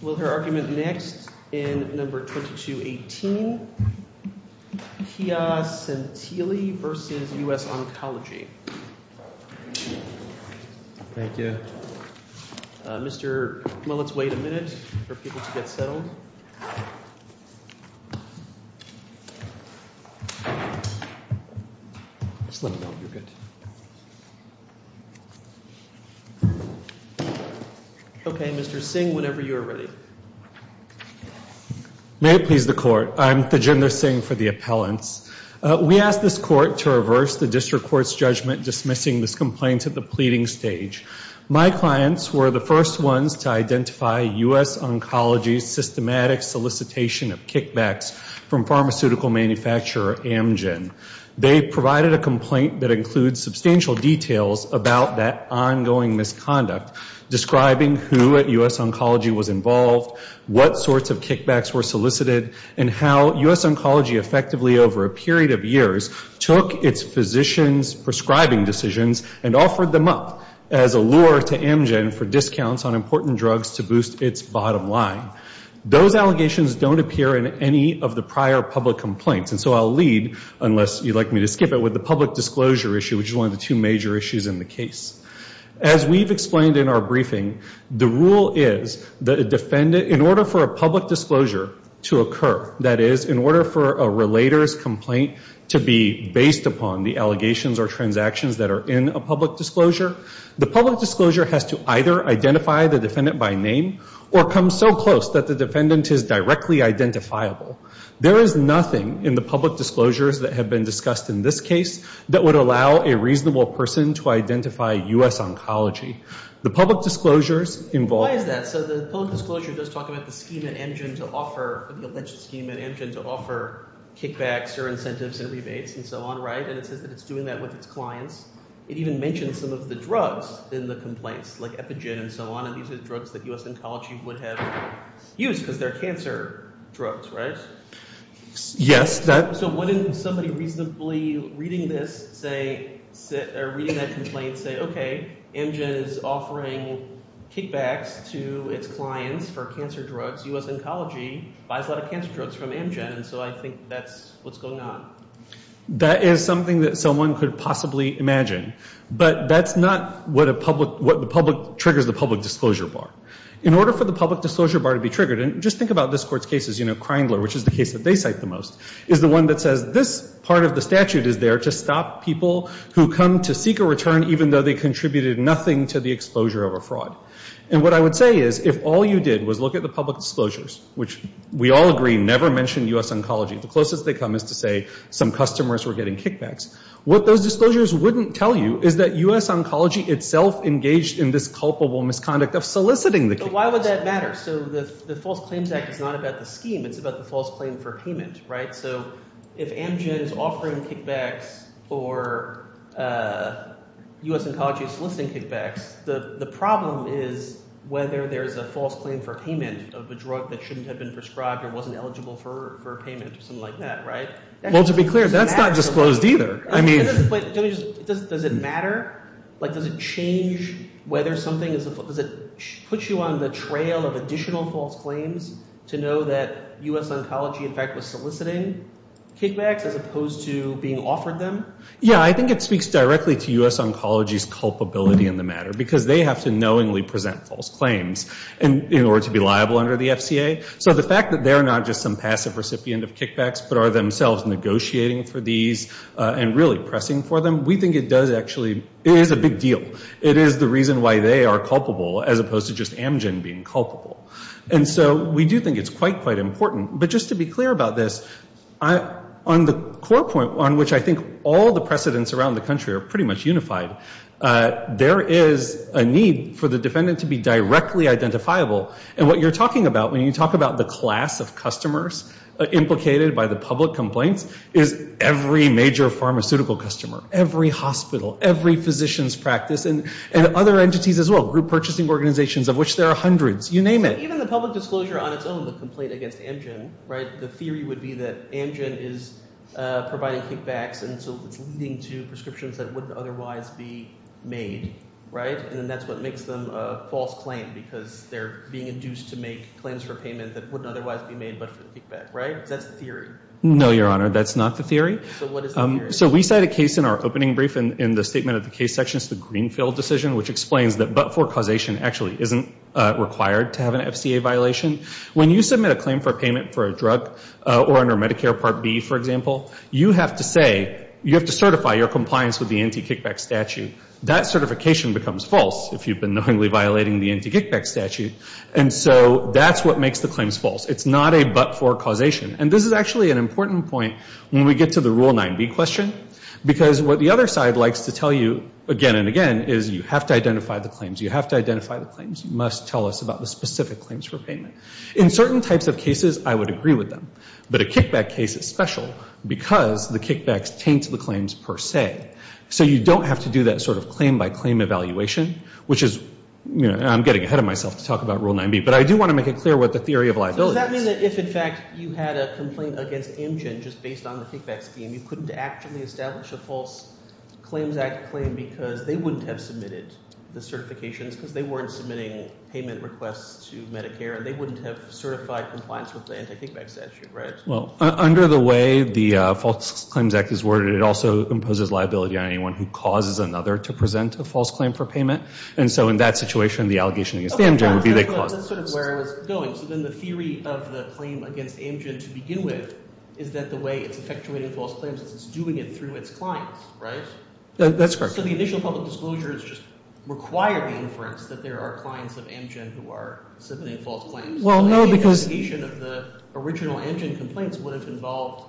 Will her argument next in No. 2218, Pia Santilli v. U.S. Oncology. Thank you. Mr. — well, let's wait a minute for people to get settled. Just let me know when you're good. Okay, Mr. Singh, whenever you're ready. May it please the Court, I'm Thaginder Singh for the appellants. We ask this Court to reverse the District Court's judgment dismissing this complaint at the pleading stage. My clients were the first ones to identify U.S. Oncology's systematic solicitation of kickbacks from pharmaceutical manufacturer Amgen. They provided a complaint that includes substantial details about that ongoing misconduct, describing who at U.S. Oncology was involved, what sorts of kickbacks were solicited, and how U.S. Oncology effectively over a period of years took its physicians' prescribing decisions and offered them up as a lure to Amgen for discounts on important drugs to boost its bottom line. Those allegations don't appear in any of the prior public complaints. And so I'll lead, unless you'd like me to skip it, with the public disclosure issue, which is one of the two major issues in the case. As we've explained in our briefing, the rule is that a defendant — in order for a public disclosure to occur, that is, in order for a relator's complaint to be based upon the allegations or transactions that are in a public disclosure, the public disclosure has to either identify the defendant by name or come so close that the defendant is directly identifiable. There is nothing in the public disclosures that have been discussed in this case that would allow a reasonable person to identify U.S. Oncology. The public disclosures involve — Why is that? So the public disclosure does talk about the scheme at Amgen to offer — the alleged scheme at Amgen to offer kickbacks or incentives and rebates and so on, right? And it says that it's doing that with its clients. It even mentions some of the drugs in the complaints, like Epigen and so on, and these are drugs that U.S. Oncology would have used because they're cancer drugs, right? Yes. So wouldn't somebody reasonably reading this say — or reading that complaint say, okay, Amgen is offering kickbacks to its clients for cancer drugs. U.S. Oncology buys a lot of cancer drugs from Amgen, and so I think that's what's going on. That is something that someone could possibly imagine, but that's not what triggers the public disclosure bar. In order for the public disclosure bar to be triggered, and just think about this Court's cases, you know, Kreindler, which is the case that they cite the most, is the one that says this part of the statute is there to stop people who come to seek a return even though they contributed nothing to the exposure of a fraud. And what I would say is if all you did was look at the public disclosures, which we all agree never mention U.S. Oncology, the closest they come is to say some customers were getting kickbacks. What those disclosures wouldn't tell you is that U.S. Oncology itself engaged in this culpable misconduct of soliciting the kickbacks. But why would that matter? So the False Claims Act is not about the scheme. It's about the false claim for payment, right? So if Amgen is offering kickbacks or U.S. Oncology is soliciting kickbacks, the problem is whether there's a false claim for payment of a drug that shouldn't have been prescribed or wasn't eligible for payment or something like that, right? Well, to be clear, that's not disclosed either. I mean— Does it matter? Like does it change whether something is—does it put you on the trail of additional false claims to know that U.S. Oncology, in fact, was soliciting kickbacks as opposed to being offered them? Yeah, I think it speaks directly to U.S. Oncology's culpability in the matter because they have to knowingly present false claims in order to be liable under the FCA. So the fact that they're not just some passive recipient of kickbacks but are themselves negotiating for these and really pressing for them, we think it does actually—it is a big deal. It is the reason why they are culpable as opposed to just Amgen being culpable. And so we do think it's quite, quite important. But just to be clear about this, on the core point on which I think all the precedents around the country are pretty much unified, there is a need for the defendant to be directly identifiable. And what you're talking about when you talk about the class of customers implicated by the public complaints is every major pharmaceutical customer, every hospital, every physician's practice, and other entities as well, group purchasing organizations of which there are hundreds, you name it. Even the public disclosure on its own, the complaint against Amgen, the theory would be that Amgen is providing kickbacks and so it's leading to prescriptions that wouldn't otherwise be made. Right? And that's what makes them a false claim because they're being induced to make claims for payment that wouldn't otherwise be made but for the kickback. Right? That's the theory. No, Your Honor. That's not the theory. So what is the theory? So we cite a case in our opening brief in the statement of the case sections, the Greenfield decision, which explains that but-for causation actually isn't required to have an FCA violation. When you submit a claim for payment for a drug or under Medicare Part B, for example, you have to say—you have to certify your compliance with the anti-kickback statute. That certification becomes false if you've been knowingly violating the anti-kickback statute. And so that's what makes the claims false. It's not a but-for causation. And this is actually an important point when we get to the Rule 9b question because what the other side likes to tell you again and again is you have to identify the claims. You have to identify the claims. You must tell us about the specific claims for payment. In certain types of cases, I would agree with them. But a kickback case is special because the kickbacks taint the claims per se. So you don't have to do that sort of claim-by-claim evaluation, which is—I'm getting ahead of myself to talk about Rule 9b, but I do want to make it clear what the theory of liability is. Does that mean that if, in fact, you had a complaint against Amgen just based on the kickback scheme, you couldn't actually establish a False Claims Act claim because they wouldn't have submitted the certifications because they weren't submitting payment requests to Medicare and they wouldn't have certified compliance with the anti-kickback statute, right? Well, under the way the False Claims Act is worded, it also imposes liability on anyone who causes another to present a false claim for payment. And so in that situation, the allegation against Amgen would be they caused it. That's sort of where I was going. So then the theory of the claim against Amgen to begin with is that the way it's effectuating false claims is it's doing it through its clients, right? That's correct. So the initial public disclosures just require the inference that there are clients of Amgen who are submitting false claims. Any allegation of the original Amgen complaints would have involved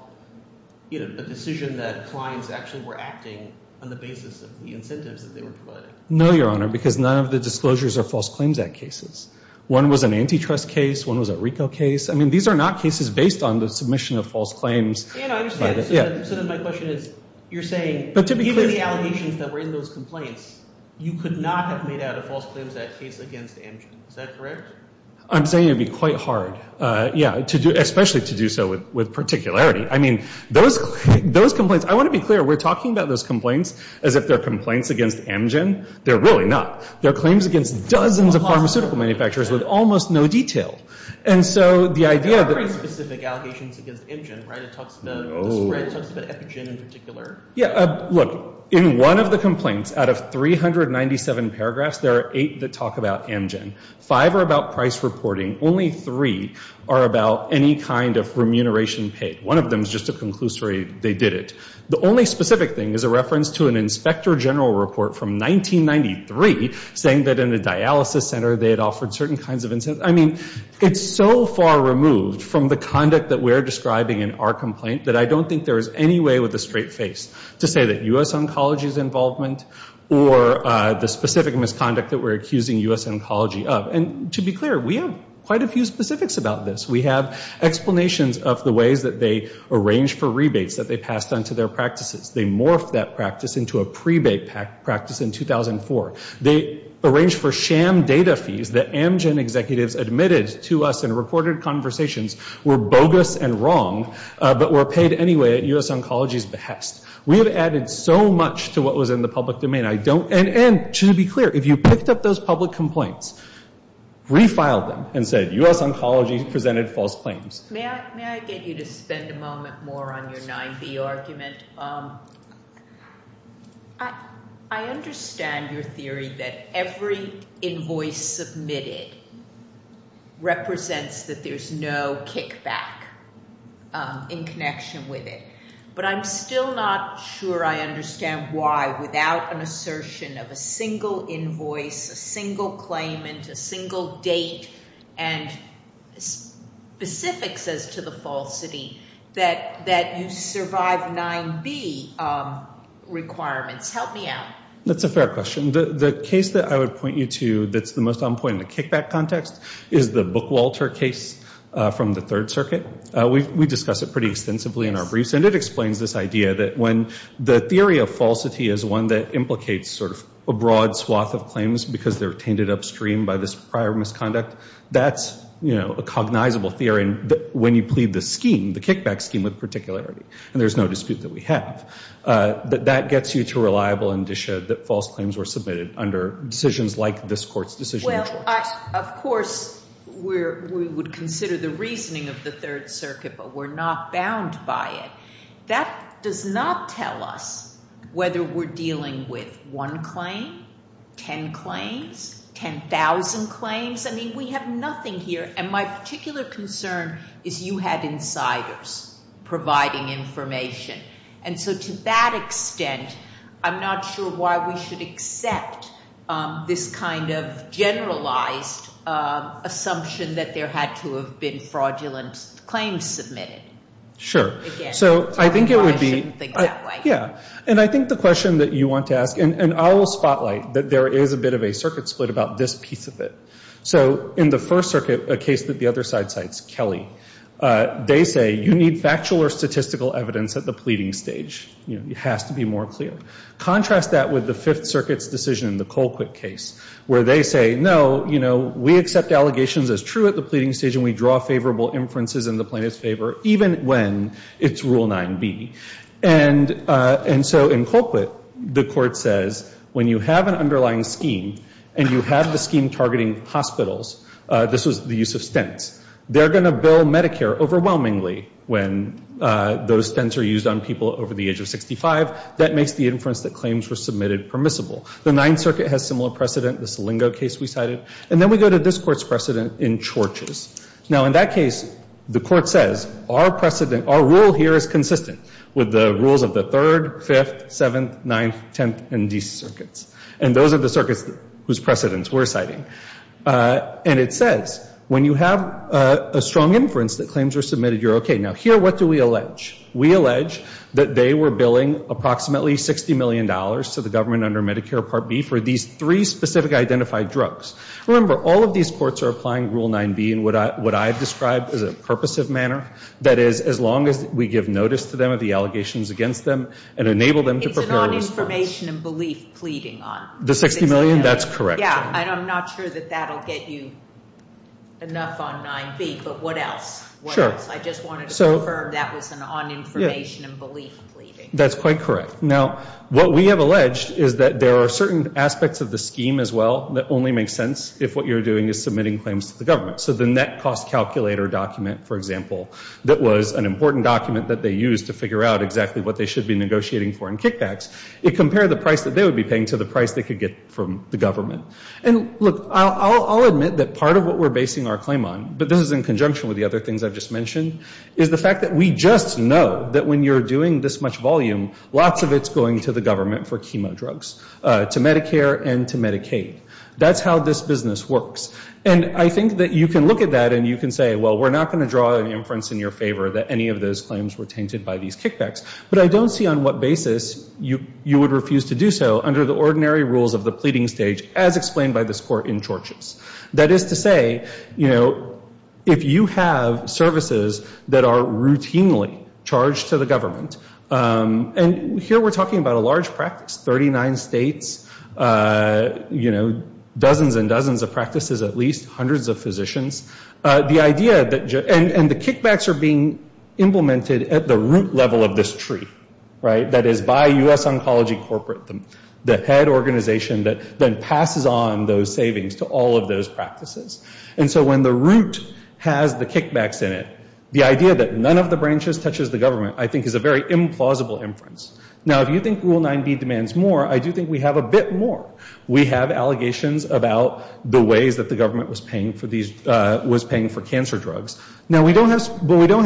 a decision that clients actually were acting on the basis of the incentives that they were providing. No, Your Honor, because none of the disclosures are False Claims Act cases. One was an antitrust case. One was a RICO case. I mean these are not cases based on the submission of false claims. I understand. So then my question is you're saying given the allegations that were in those complaints, you could not have made out a False Claims Act case against Amgen. Is that correct? I'm saying it would be quite hard, yeah, especially to do so with particularity. I mean those complaints, I want to be clear, we're talking about those complaints as if they're complaints against Amgen. They're really not. They're claims against dozens of pharmaceutical manufacturers with almost no detail. And so the idea that There are very specific allegations against Amgen, right? It talks about the spread, it talks about Epigen in particular. Yeah, look, in one of the complaints, out of 397 paragraphs, there are eight that talk about Amgen. Five are about price reporting. Only three are about any kind of remuneration paid. One of them is just a conclusory they did it. The only specific thing is a reference to an Inspector General report from 1993 saying that in the dialysis center they had offered certain kinds of incentives. I mean it's so far removed from the conduct that we're describing in our complaint that I don't think there is any way with a straight face to say that U.S. oncology's involvement or the specific misconduct that we're accusing U.S. oncology of. And to be clear, we have quite a few specifics about this. We have explanations of the ways that they arranged for rebates that they passed on to their practices. They morphed that practice into a prebate practice in 2004. They arranged for sham data fees that Amgen executives admitted to us in reported conversations were bogus and wrong, but were paid anyway at U.S. oncology's behest. We have added so much to what was in the public domain. And to be clear, if you picked up those public complaints, refiled them and said U.S. oncology presented false claims. May I get you to spend a moment more on your 9B argument? I understand your theory that every invoice submitted represents that there's no kickback in connection with it. But I'm still not sure I understand why, without an assertion of a single invoice, a single claimant, a single date, and specifics as to the falsity, that you survive 9B requirements. Help me out. That's a fair question. The case that I would point you to that's the most on point in the kickback context is the Bookwalter case from the Third Circuit. We discuss it pretty extensively in our briefs. And it explains this idea that when the theory of falsity is one that implicates sort of a broad swath of claims because they're tainted upstream by this prior misconduct, that's a cognizable theory when you plead the scheme, the kickback scheme with particularity. And there's no dispute that we have. But that gets you to a reliable indicia that false claims were submitted under decisions like this Court's decision. Well, of course, we would consider the reasoning of the Third Circuit, but we're not bound by it. That does not tell us whether we're dealing with one claim, 10 claims, 10,000 claims. I mean, we have nothing here. And my particular concern is you had insiders providing information. And so to that extent, I'm not sure why we should accept this kind of generalized assumption that there had to have been fraudulent claims submitted. Sure. So I think it would be. I shouldn't think that way. Yeah. And I think the question that you want to ask, and I will spotlight that there is a bit of a circuit split about this piece of it. So in the First Circuit, a case that the other side cites, Kelly, they say you need factual or statistical evidence at the pleading stage. It has to be more clear. Contrast that with the Fifth Circuit's decision, the Colquitt case, where they say, no, you know, we accept allegations as true at the pleading stage and we draw favorable inferences in the plaintiff's favor, even when it's Rule 9b. And so in Colquitt, the Court says, when you have an underlying scheme and you have the scheme targeting hospitals, this was the use of stints, they're going to bill Medicare overwhelmingly when those stints are used on people over the age of 65. That makes the inference that claims were submitted permissible. The Ninth Circuit has similar precedent, the Selingo case we cited. And then we go to this Court's precedent in Chorches. Now, in that case, the Court says, our precedent, our rule here is consistent with the rules of the Third, Fifth, Seventh, Ninth, Tenth, and D circuits. And those are the circuits whose precedents we're citing. And it says, when you have a strong inference that claims were submitted, you're okay. Now, here, what do we allege? We allege that they were billing approximately $60 million to the government under Medicare Part B for these three specific identified drugs. Remember, all of these courts are applying Rule 9b in what I've described as a purposive manner. That is, as long as we give notice to them of the allegations against them and enable them to prepare a response. It's an on-information and belief pleading on. The $60 million? That's correct. Yeah, and I'm not sure that that will get you enough on 9b. But what else? What else? I just wanted to confirm that was an on-information and belief pleading. That's quite correct. Now, what we have alleged is that there are certain aspects of the scheme as well that only make sense if what you're doing is submitting claims to the government. So the net cost calculator document, for example, that was an important document that they used to figure out exactly what they should be negotiating for in kickbacks, it compared the price that they would be paying to the price they could get from the government. And, look, I'll admit that part of what we're basing our claim on, but this is in conjunction with the other things I've just mentioned, is the fact that we just know that when you're doing this much volume, lots of it's going to the government for chemo drugs, to Medicare and to Medicaid. That's how this business works. And I think that you can look at that and you can say, well, we're not going to draw an inference in your favor that any of those claims were tainted by these kickbacks. But I don't see on what basis you would refuse to do so under the ordinary rules of the pleading stage as explained by this court in Chorchess. That is to say, you know, if you have services that are routinely charged to the government, and here we're talking about a large practice, 39 states, you know, dozens and dozens of practices at least, hundreds of physicians. The idea that, and the kickbacks are being implemented at the root level of this tree, right, that is by U.S. Oncology Corporate, the head organization that then passes on those savings to all of those practices. And so when the root has the kickbacks in it, the idea that none of the branches touches the government, I think, is a very implausible inference. Now, if you think Rule 9b demands more, I do think we have a bit more. We have allegations about the ways that the government was paying for cancer drugs. Now, we don't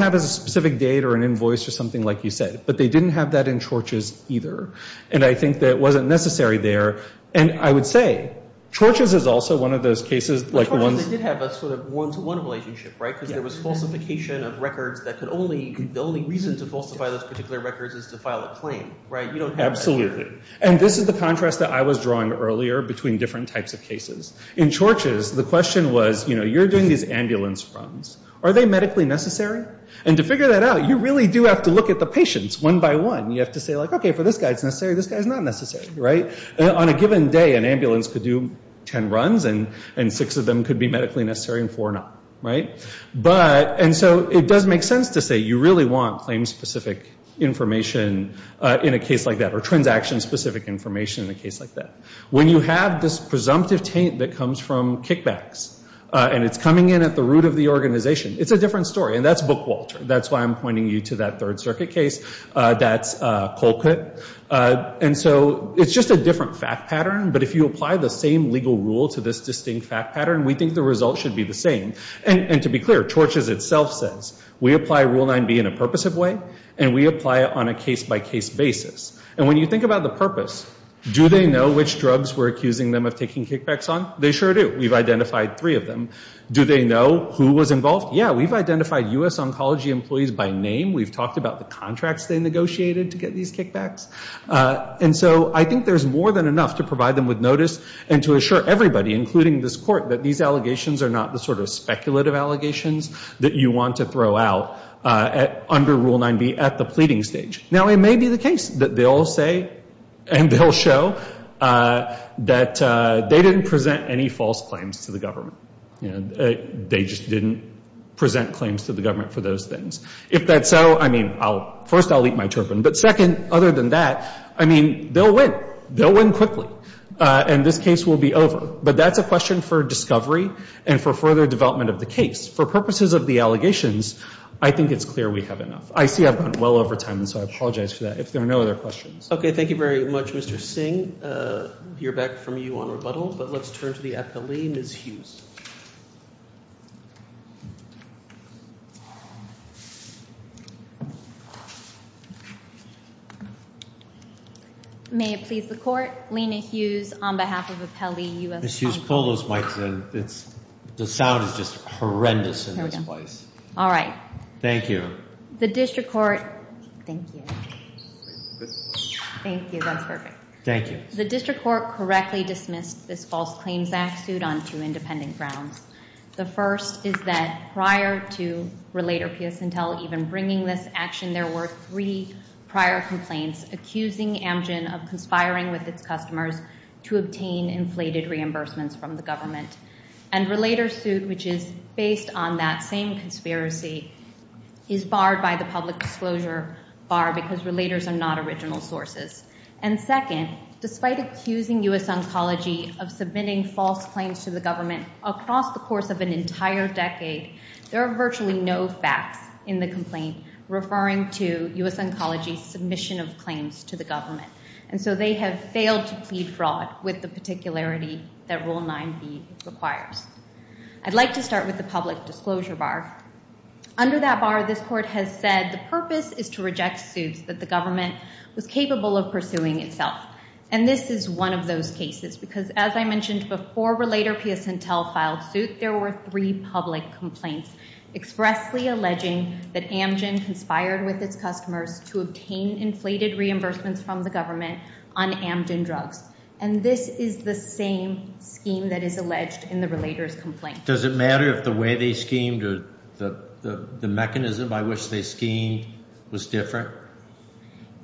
have a specific date or an invoice or something like you said, but they didn't have that in Chorchess either. And I think that it wasn't necessary there. And I would say, Chorchess is also one of those cases, like the ones... They did have a sort of one-to-one relationship, right? Because there was falsification of records that could only, the only reason to falsify those particular records is to file a claim, right? You don't have that here. Absolutely. And this is the contrast that I was drawing earlier between different types of cases. In Chorchess, the question was, you know, you're doing these ambulance runs. Are they medically necessary? And to figure that out, you really do have to look at the patients one by one. You have to say, like, okay, for this guy it's necessary, this guy's not necessary, right? On a given day, an ambulance could do 10 runs and six of them could be medically necessary and four not, right? But, and so it does make sense to say you really want claim-specific information in a case like that, or transaction-specific information in a case like that. When you have this presumptive taint that comes from kickbacks and it's coming in at the root of the organization, it's a different story. And that's Bookwalter. That's why I'm pointing you to that Third Circuit case. That's Colquitt. And so it's just a different fact pattern, but if you apply the same legal rule to this distinct fact pattern, we think the result should be the same. And to be clear, Chorchess itself says, we apply Rule 9b in a purposive way and we apply it on a case-by-case basis. And when you think about the purpose, do they know which drugs we're accusing them of taking kickbacks on? They sure do. We've identified three of them. Do they know who was involved? Yeah, we've identified U.S. oncology employees by name. We've talked about the contracts they negotiated to get these kickbacks. And so I think there's more than enough to provide them with notice and to assure everybody, including this court, that these allegations are not the sort of speculative allegations that you want to throw out under Rule 9b at the pleading stage. Now, it may be the case that they'll say and they'll show that they didn't present any false claims to the government. They just didn't present claims to the government for those things. If that's so, I mean, first I'll eat my turban, but second, other than that, I mean, they'll win. They'll win quickly. And this case will be over. But that's a question for discovery and for further development of the case. For purposes of the allegations, I think it's clear we have enough. I see I've gone well over time, so I apologize for that. If there are no other questions. Okay, thank you very much, Mr. Singh. We'll hear back from you on rebuttal, but let's turn to the appellee, Ms. Hughes. May it please the Court, Lena Hughes on behalf of Appellee U.S. Times. Ms. Hughes, pull those mics in. The sound is just horrendous in this place. Here we go. All right. Thank you. The District Court... Thank you. Thank you, that's perfect. Thank you. The District Court correctly dismissed this False Claims Act suit on two independent grounds. The first is that prior to Relator P.S. Intel even bringing this action, there were three prior complaints accusing Amgen of conspiring with its customers to obtain inflated reimbursements from the government. And Relator suit, which is based on that same conspiracy, is barred by the public disclosure bar because Relators are not original sources. And second, despite accusing U.S. Oncology of submitting false claims to the government across the course of an entire decade, there are virtually no facts in the complaint referring to U.S. Oncology's submission of claims to the government. And so they have failed to plead fraud with the particularity that Rule 9b requires. I'd like to start with the public disclosure bar. Under that bar, this Court has said the purpose is to reject suits that the government was capable of pursuing itself. And this is one of those cases because as I mentioned before Relator P.S. Intel filed suit, there were three public complaints expressly alleging that Amgen conspired with its customers to obtain inflated reimbursements from the government on Amgen drugs. And this is the same scheme that is alleged in the Relator's complaint. Does it matter if the way they schemed or the mechanism by which they schemed was different?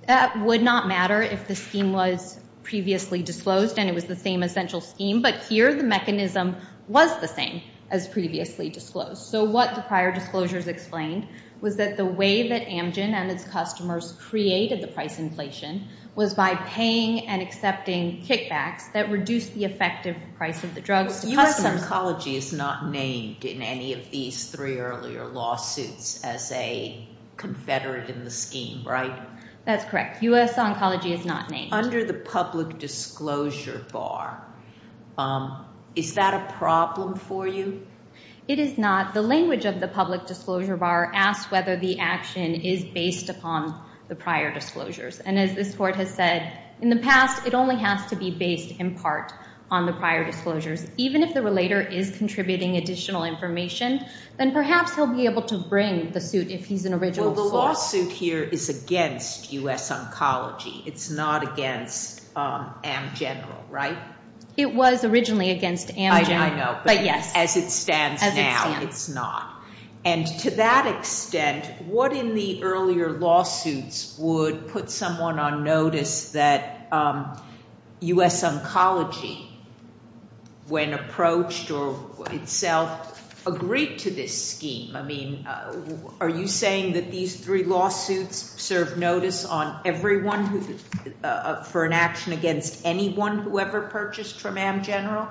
That would not matter if the scheme was previously disclosed and it was the same essential scheme, but here the mechanism was the same as previously disclosed. So what the prior disclosures explained was that the way that Amgen and its customers created the price inflation was by paying and accepting kickbacks that reduced the effective price of the drugs. U.S. Oncology is not named in any of these three earlier lawsuits as a confederate in the scheme, right? That's correct. U.S. Oncology is not named. Under the public disclosure bar, is that a problem for you? It is not. The language of the public disclosure bar asks whether the action is based upon the prior disclosures. And as this Court has said, in the past it only has to be based in part on the prior disclosures. Even if the Relator is contributing additional information, then perhaps he'll be able to bring the suit if he's an original source. Well, the lawsuit here is against U.S. Oncology. It's not against Amgen, right? It was originally against Amgen. I know. But yes. As it stands now, it's not. And to that extent, what in the earlier lawsuits would put someone on notice that U.S. Oncology, when approached or itself, agreed to this scheme? I mean, are you saying that these three lawsuits serve notice on everyone for an action against anyone who ever purchased from Amgen?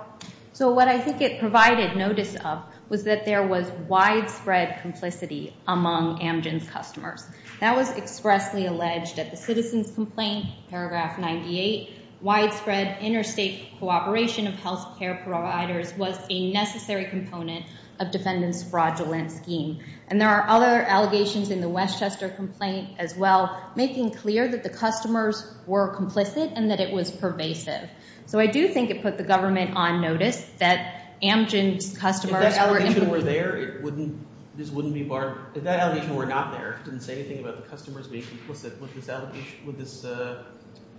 So what I think it provided notice of was that there was widespread complicity among Amgen's customers. That was expressly alleged at the Citizens' Complaint, paragraph 98. Widespread interstate cooperation of health care providers was a necessary component of defendants' fraudulent scheme. And there are other allegations in the Westchester complaint as well, making clear that the customers were complicit and that it was pervasive. So I do think it put the government on notice that Amgen's customers... If that allegation were there, this wouldn't be barred. If that allegation were not there, if it didn't say anything about the customers being complicit, would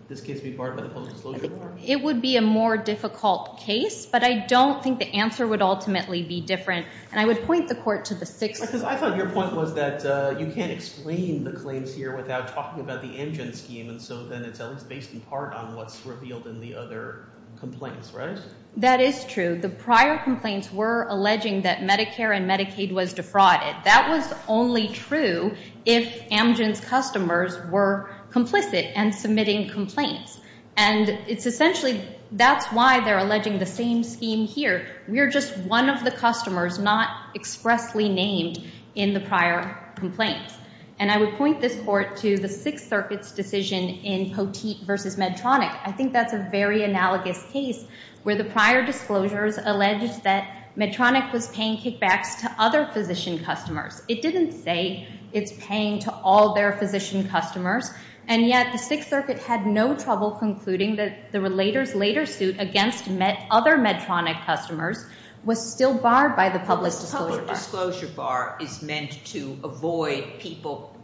this case be barred by the public disclosure board? It would be a more difficult case, but I don't think the answer would ultimately be different. And I would point the Court to the sixth... Because I thought your point was that you can't explain the claims here without talking about the Amgen scheme, and so then it's at least based in part on what's revealed in the other complaints, right? That is true. The prior complaints were alleging that Medicare and Medicaid was defrauded. That was only true if Amgen's customers were complicit and submitting complaints. And it's essentially... That's why they're alleging the same scheme here. We're just one of the customers not expressly named in the prior complaints. And I would point this Court to the Sixth Circuit's decision in Poteet v. Medtronic. I think that's a very analogous case where the prior disclosures alleged that Medtronic was paying kickbacks to other physician customers. It didn't say it's paying to all their physician customers, and yet the Sixth Circuit had no trouble concluding that the later suit against other Medtronic customers was still barred by the public disclosure bar. The public disclosure bar is meant to avoid people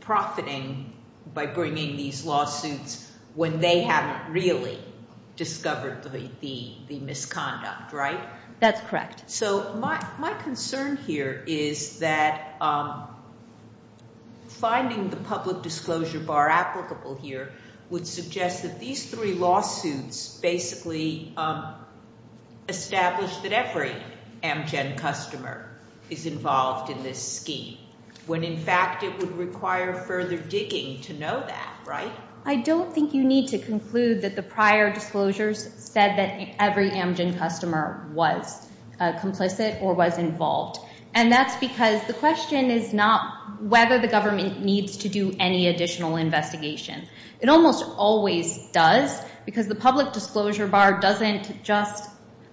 profiting by bringing these lawsuits when they haven't really discovered the misconduct, right? That's correct. So my concern here is that finding the public disclosure bar applicable here would suggest that these three lawsuits basically establish that every Amgen customer is involved in this scheme, when in fact it would require further digging to know that, right? I don't think you need to conclude that the prior disclosures said that every Amgen customer was complicit or was involved. And that's because the question is not whether the government needs to do any additional investigation. It almost always does because the public disclosure bar doesn't just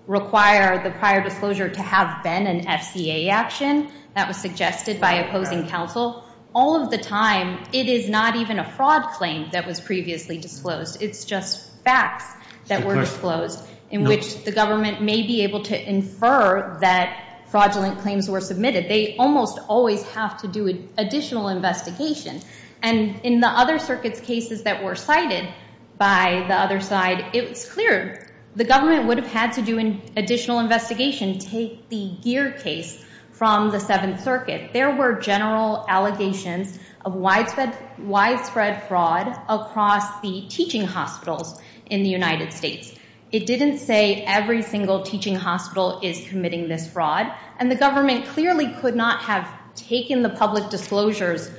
require the prior disclosure to have been an FCA action that was suggested by opposing counsel. All of the time, it is not even a fraud claim that was previously disclosed. It's just facts that were disclosed in which the government may be able to infer that fraudulent claims were submitted. They almost always have to do additional investigation. And in the other circuits' cases that were cited by the other side, it was clear the government would have had to do additional investigation, take the GEAR case from the Seventh Circuit. There were general allegations of widespread fraud across the teaching hospitals in the United States. It didn't say every single teaching hospital is committing this fraud. And the government clearly could not have taken the public disclosures,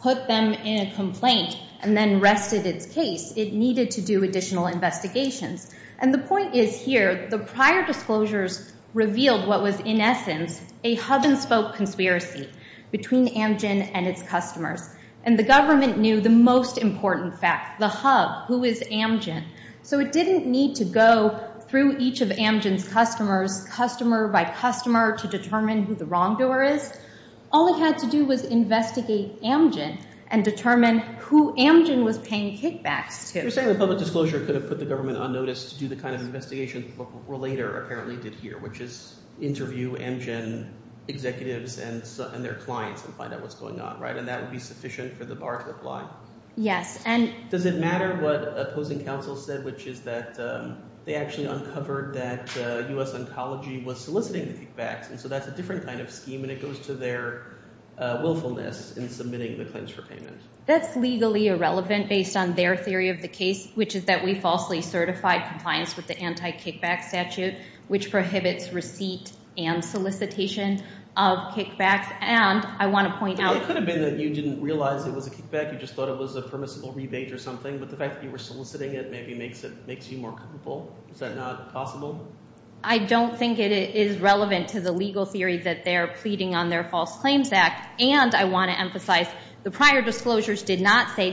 put them in a complaint, and then rested its case. It needed to do additional investigations. And the point is here, the prior disclosures revealed what was, in essence, a hub-and-spoke conspiracy between Amgen and its customers. And the government knew the most important fact, the hub, who is Amgen. So it didn't need to go through each of Amgen's customers, customer by customer, to determine who the wrongdoer is. All it had to do was investigate Amgen and determine who Amgen was paying kickbacks to. You're saying the public disclosure could have put the government on notice to do the kind of investigation Relator apparently did here, which is interview Amgen executives and their clients and find out what's going on, right? And that would be sufficient for the bar to apply? Yes. Does it matter what opposing counsel said, which is that they actually uncovered that U.S. Oncology was soliciting the kickbacks, and so that's a different kind of scheme, and it goes to their willfulness in submitting the claims for payment? That's legally irrelevant based on their theory of the case, which is that we falsely certified compliance with the anti-kickback statute, which prohibits receipt and solicitation of kickbacks. And I want to point out... It could have been that you didn't realize it was a kickback. You just thought it was a permissible rebate or something, but the fact that you were soliciting it maybe makes you more comfortable. Is that not possible? I don't think it is relevant to the legal theory that they're pleading on their False Claims Act. And I want to emphasize the prior disclosures did not say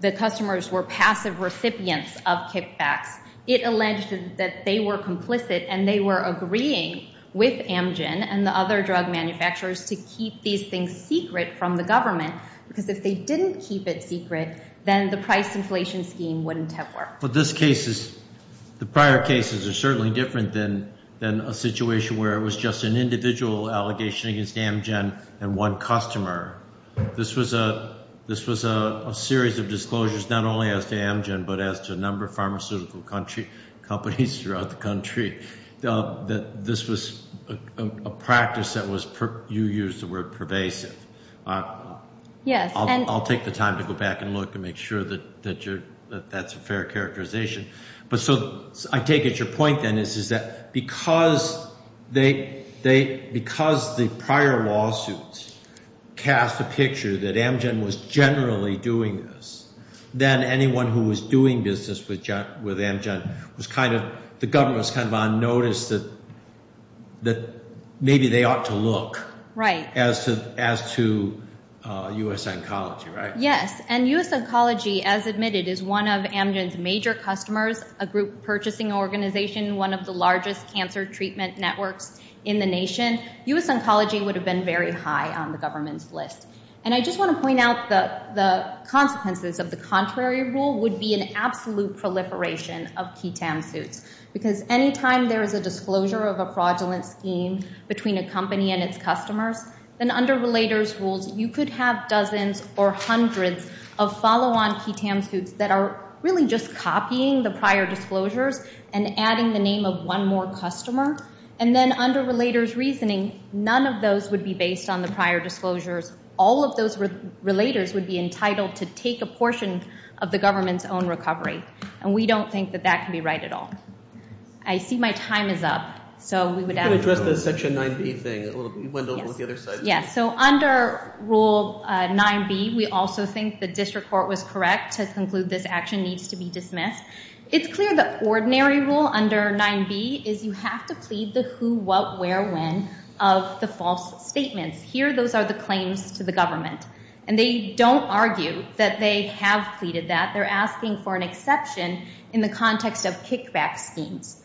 the customers were passive recipients of kickbacks. It alleged that they were complicit and they were agreeing with Amgen and the other drug manufacturers to keep these things secret from the government, because if they didn't keep it secret, then the price inflation scheme wouldn't have worked. But this case is... The prior cases are certainly different than a situation where it was just an individual allegation against Amgen and one customer. This was a series of disclosures not only as to Amgen, but as to a number of pharmaceutical companies throughout the country that this was a practice that you used the word pervasive. Yes. I'll take the time to go back and look and make sure that that's a fair characterization. But so I take it your point then is that because the prior lawsuits cast a picture that Amgen was generally doing this, then anyone who was doing business with Amgen was kind of... The government was kind of on notice that maybe they ought to look as to U.S. Oncology, right? Yes, and U.S. Oncology, as admitted, is one of Amgen's major customers, a group purchasing organization, one of the largest cancer treatment networks in the nation. U.S. Oncology would have been very high on the government's list. And I just want to point out the consequences of the contrary rule would be an absolute proliferation of QI-TAM suits because anytime there is a disclosure of a fraudulent scheme between a company and its customers, then under relator's rules, you could have dozens or hundreds of follow-on QI-TAM suits that are really just copying the prior disclosures and adding the name of one more customer. And then under relator's reasoning, none of those would be based on the prior disclosures. All of those relators would be entitled to take a portion of the government's own recovery. And we don't think that that can be right at all. I see my time is up, so we would add... You can address the Section 9B thing a little bit. You went over to the other side. Yes, so under Rule 9B, we also think the district court was correct to conclude this action needs to be dismissed. It's clear the ordinary rule under 9B is you have to plead the who, what, where, when of the false statements. Here, those are the claims to the government. And they don't argue that they have pleaded that. They're asking for an exception in the context of kickback schemes.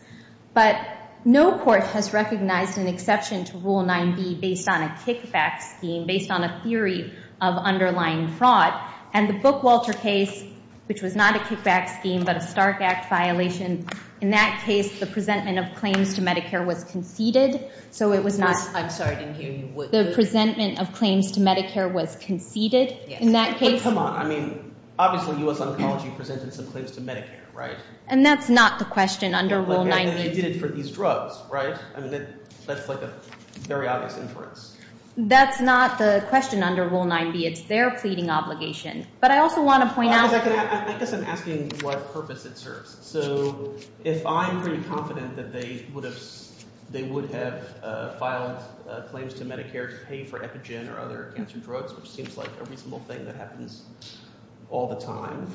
But no court has recognized an exception to Rule 9B based on a kickback scheme, based on a theory of underlying fraud. And the Bookwalter case, which was not a kickback scheme but a Stark Act violation, in that case, the presentment of claims to Medicare was conceded. So it was not... I'm sorry, I didn't hear you. The presentment of claims to Medicare was conceded? Yes. In that case... But come on, I mean, obviously U.S. Oncology presented some claims to Medicare, right? And that's not the question under Rule 9B. And they did it for these drugs, right? I mean, that's like a very obvious inference. That's not the question under Rule 9B. It's their pleading obligation. But I also want to point out... I guess I'm asking what purpose it serves. So if I'm pretty confident that they would have filed claims to Medicare to pay for epigen or other cancer drugs, which seems like a reasonable thing that happens all the time,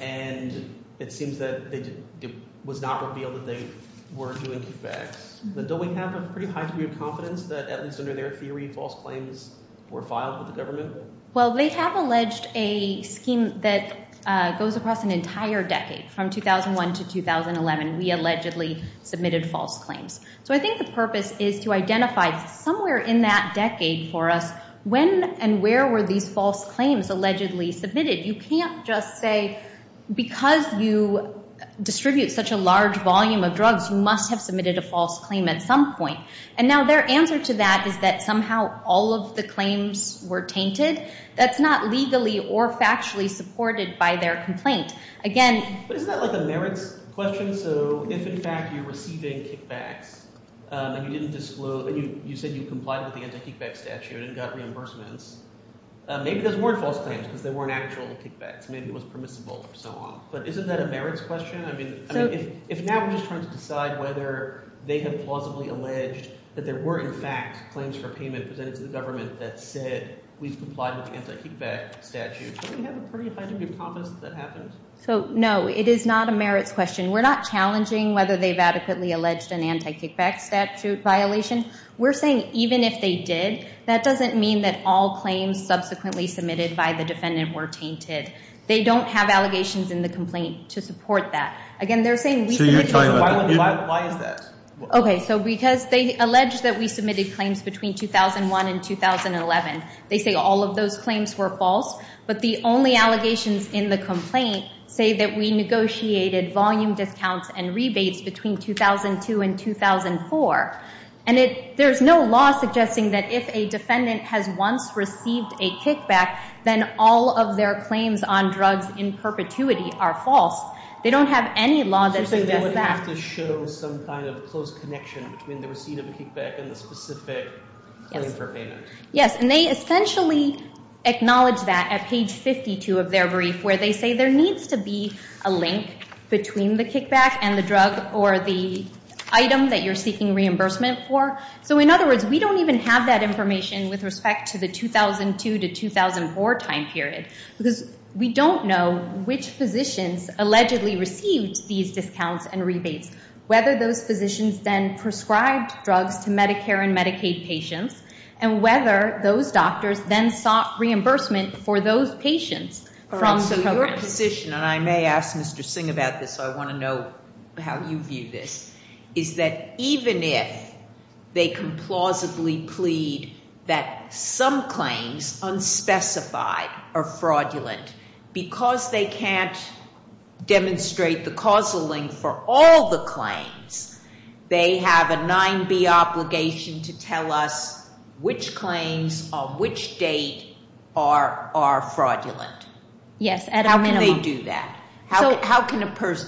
and it seems that it was not revealed that they were doing kickbacks, then don't we have a pretty high degree of confidence that at least under their theory, false claims were filed with the government? Well, they have alleged a scheme that goes across an entire decade. From 2001 to 2011, we allegedly submitted false claims. So I think the purpose is to identify somewhere in that decade for us, when and where were these false claims allegedly submitted? You can't just say, because you distribute such a large volume of drugs, you must have submitted a false claim at some point. And now their answer to that is that somehow all of the claims were tainted. That's not legally or factually supported by their complaint. Again... But isn't that like a merits question? So if in fact you're receiving kickbacks and you didn't disclose, and you said you complied with the anti-kickback statute and got reimbursements, maybe those weren't false claims because they weren't actual kickbacks. Maybe it was permissible or so on. But isn't that a merits question? I mean, if now we're just trying to decide whether they have plausibly alleged that there were in fact claims for payment presented to the government that said, we've complied with the anti-kickback statute, don't we have a pretty fine degree of confidence that that happened? So, no. It is not a merits question. We're not challenging whether they've adequately alleged an anti-kickback statute violation. We're saying even if they did, that doesn't mean that all claims subsequently submitted by the defendant were tainted. They don't have allegations in the complaint to support that. Again, they're saying... So you're talking about... Why is that? Okay, so because they alleged that we submitted claims between 2001 and 2011. They say all of those claims were false, but the only allegations in the complaint say that we negotiated volume discounts and rebates between 2002 and 2004. And there's no law suggesting that if a defendant has once received then all of their claims on drugs in perpetuity are false. that suggests that. So you're saying they would have to show some kind of close connection between the receipt of a kickback and the specific claim that was submitted by the defendant for payment. Yes. And they essentially acknowledge that at page 52 of their brief where they say there needs to be a link between the kickback and the drug or the item that you're seeking reimbursement for. So in other words, we don't even have that information with respect to the 2002 to 2004 time period because we don't know which physicians allegedly received these discounts and rebates. Whether those physicians then prescribed drugs to Medicare and Medicaid patients and whether those doctors then sought reimbursement for those patients from the program. And so your position and I may ask Mr. Singh about this so I want to know how you view this is that even if they can plausibly plead that some claims unspecified are fraudulent because they can't demonstrate the causal link for all the claims they have a 9B obligation to tell us which claims on which date are fraudulent. Yes, at a minimum. How can they do that?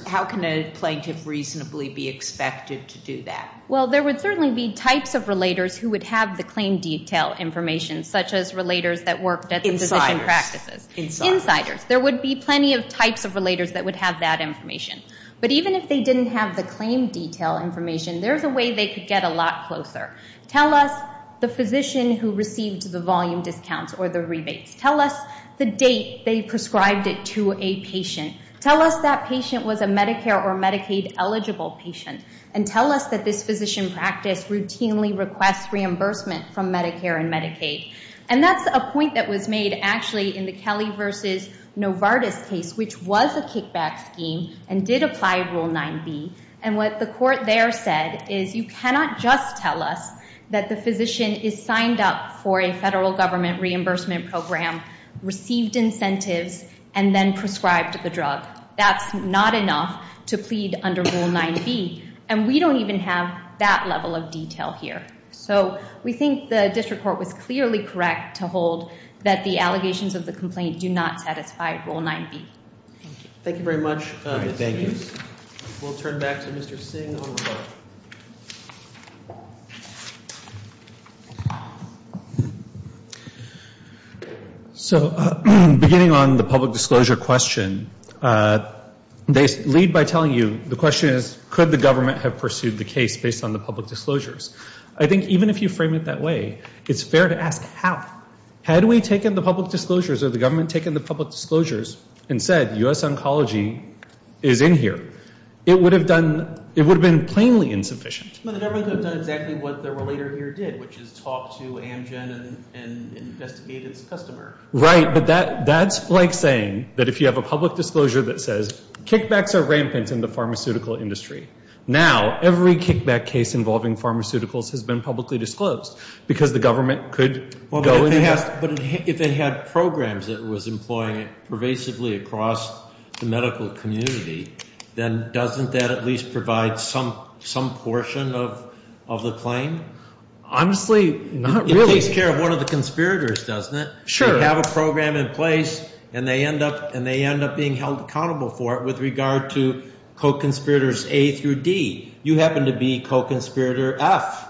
How can a plaintiff reasonably be expected to do that? Well, there would certainly be types of relators who would have the claim detail information such as relators that worked at the physician practices. Insiders. Insiders. There would be plenty of types of relators that would have that information. But even if they didn't have the claim detail information there's a way they could get a lot closer. Tell us the physician who received the volume discounts or the rebates. Tell us the date they prescribed it to a patient. Tell us that patient was a Medicare or Medicaid eligible patient. And tell us that this physician practice routinely requests reimbursement from Medicare and Medicaid. And that's a point that was made actually in the Kelly versus Novartis case which was a kickback scheme and did apply Rule 9B. And what the court there said is that you cannot just tell us that the physician is signed up for a federal government reimbursement program, received incentives and then prescribed the drug. That's not enough to plead under Rule 9B and we don't even have that level of detail here. So we think the district court was clearly correct to hold that the allegations of the complaint do not satisfy Rule 9B. Thank you very much Ms. Hughes. We'll turn back to Mr. Singh and then we'll go to the report. So, beginning on the public disclosure question, they lead by telling you the question is could the government have pursued the case based on the public disclosures? I think even if you frame it that way, it's fair to ask how? Had we taken the public disclosures or the government taken the public disclosures and said that U.S. oncology is in here, it would have done, it would have been plainly insufficient. But the government could have done exactly what the relator here did, which is talk to Amgen and investigate its customer. Right, but that's like saying that if you have a public disclosure that says kickbacks are rampant in the pharmaceutical industry. Now, every kickback case involving pharmaceuticals has been publicly disclosed because the government could go and investigate that. But if it had programs that was employing it pervasively across the medical community, then doesn't that at least provide some portion of the claim? Honestly, not really. It takes care of one of the conspirators, doesn't it? Sure. They have a program in place and they end up being held accountable for it with regard to co-conspirators A through D. You happen to be co-conspirator F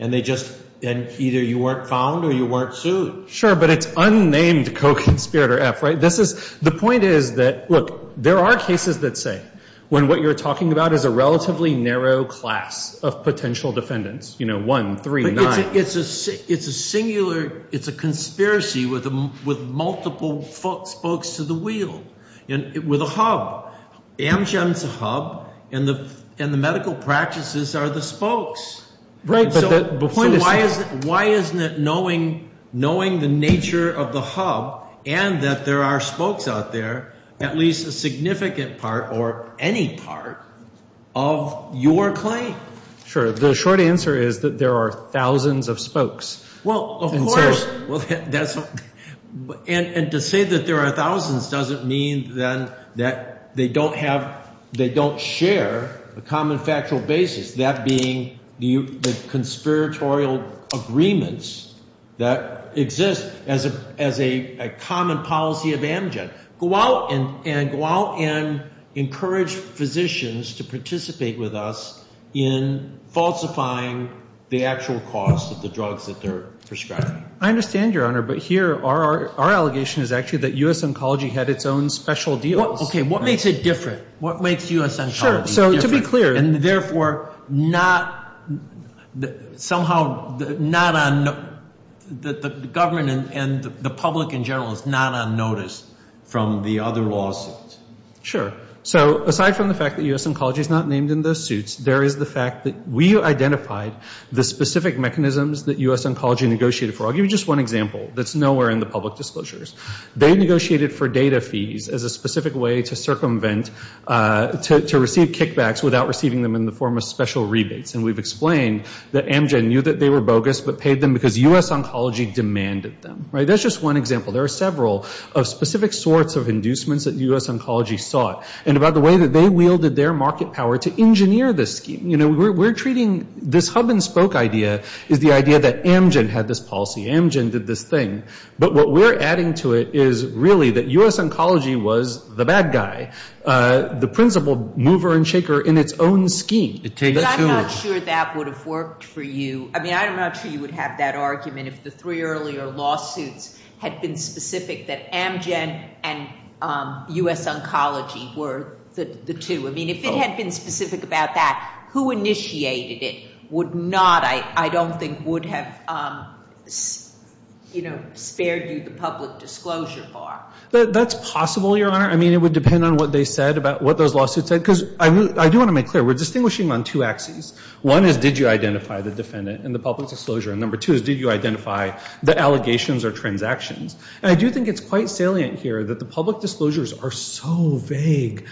and either you weren't found or you weren't sued. Sure, but it's unnamed co-conspirator F, right? The point is that, look, there are cases that say when what you're talking about is a relatively narrow class of potential defendants, you know, one, three, nine. It's a singular conspiracy with multiple spokes to the wheel with a hub. Amgen's a hub and the medical practices are the spokes. Right, but why isn't it knowing the nature of the hub and that there are spokes out there, at least a significant part or any part of your claim? Sure. The short answer is that there are thousands of spokes. Well, of course. And to say that there are thousands doesn't mean then that they don't share a common factual basis, that being the conspiratorial agreements that exist as a common policy of Amgen. Go out and encourage physicians to participate with us in falsifying the actual cost of the drugs that they're prescribing. I understand, Your Honor, but here our allegation is actually that U.S. Oncology had its own special deals. Okay. What makes it different? What makes U.S. Oncology different? Sure. So to be clear, and therefore not somehow not on the government and the public in general is not on notice from the other lawsuits. Sure. So aside from the fact that U.S. Oncology is not named in those suits, there is the fact that we identified the specific mechanisms that U.S. Oncology negotiated for. I'll give you just one example that's nowhere in the public disclosures. They negotiated for data fees as a specific way to circumvent, to receive kickbacks without receiving them in the form of special rebates. And we've re-wielded their market power to engineer this scheme. You know, we're treating this hub and spoke idea as the idea that Amgen had this policy, Amgen did this thing, but what we're adding to it is really that U.S. Oncology was the bad guy, the principal mover and shaker in its own scheme. But I'm not sure that would have worked for you. I mean, I'm not sure you would have that argument if the three earlier lawsuits had been specific that Amgen and U.S. Oncology were the two. I mean, if it had been specific about that, who initiated it would not, I don't think, would have spared you the public disclosure bar. That's possible, Your Honor. I mean, it would depend on what they said about what those lawsuits said. Because I do want to make clear we're distinguishing on two axes. One is did you identify the defendant and the public disclosure and number two is did you identify public disclosure the disclosure and number four, did you identify the defendant and the public disclosure and number five? Does this mean we have no public disclosure? And number five, did identify the defendant and the public disclosure? Does this mean we have no public disclosure? And number six, did you identify the defendant and the public disclosure? Does mean we number seven, did you identify the defendant and the public disclosure? Does this mean we have no public disclosure? And number eight, did you identify the defendant and the public disclosure? And number nine, did you identify the defendant and the public disclosure? And number 10, did you identify the defendant and the public disclosure? 11, did you identify the defendant and the public disclosure? And number 12, did you identify the defendant and the public disclosure? And number 13, did you identify the defendant and the public disclosure? And number 14, did you identify the defendant and the public disclosure? And number 15, did you identify the defendant and the public disclosure? And number 16, did you identify the public disclosure? And number 17, did you identify the defendant and the public disclosure? And number 18, did you identify the defendant and the public disclosure? And number 19, did you identify the defendant and the public disclosure? And number 20, did you identify the defendant and the public disclosure? And number 21, did you identify defendant and the public disclosure? And number 22, did you identify the defendant and the public disclosure? And number 23, did you identify the defendant and the public disclosure? And number 24, did identify and the public And number 25, did you identify the defendant and the public disclosure? And number 26, did you identify the identify public disclosure? And number 28, did you identify the defendant and the public disclosure? And number 29, did you defendant and the public disclosure? And number 27, did you identify the defendant and the public disclosure? And number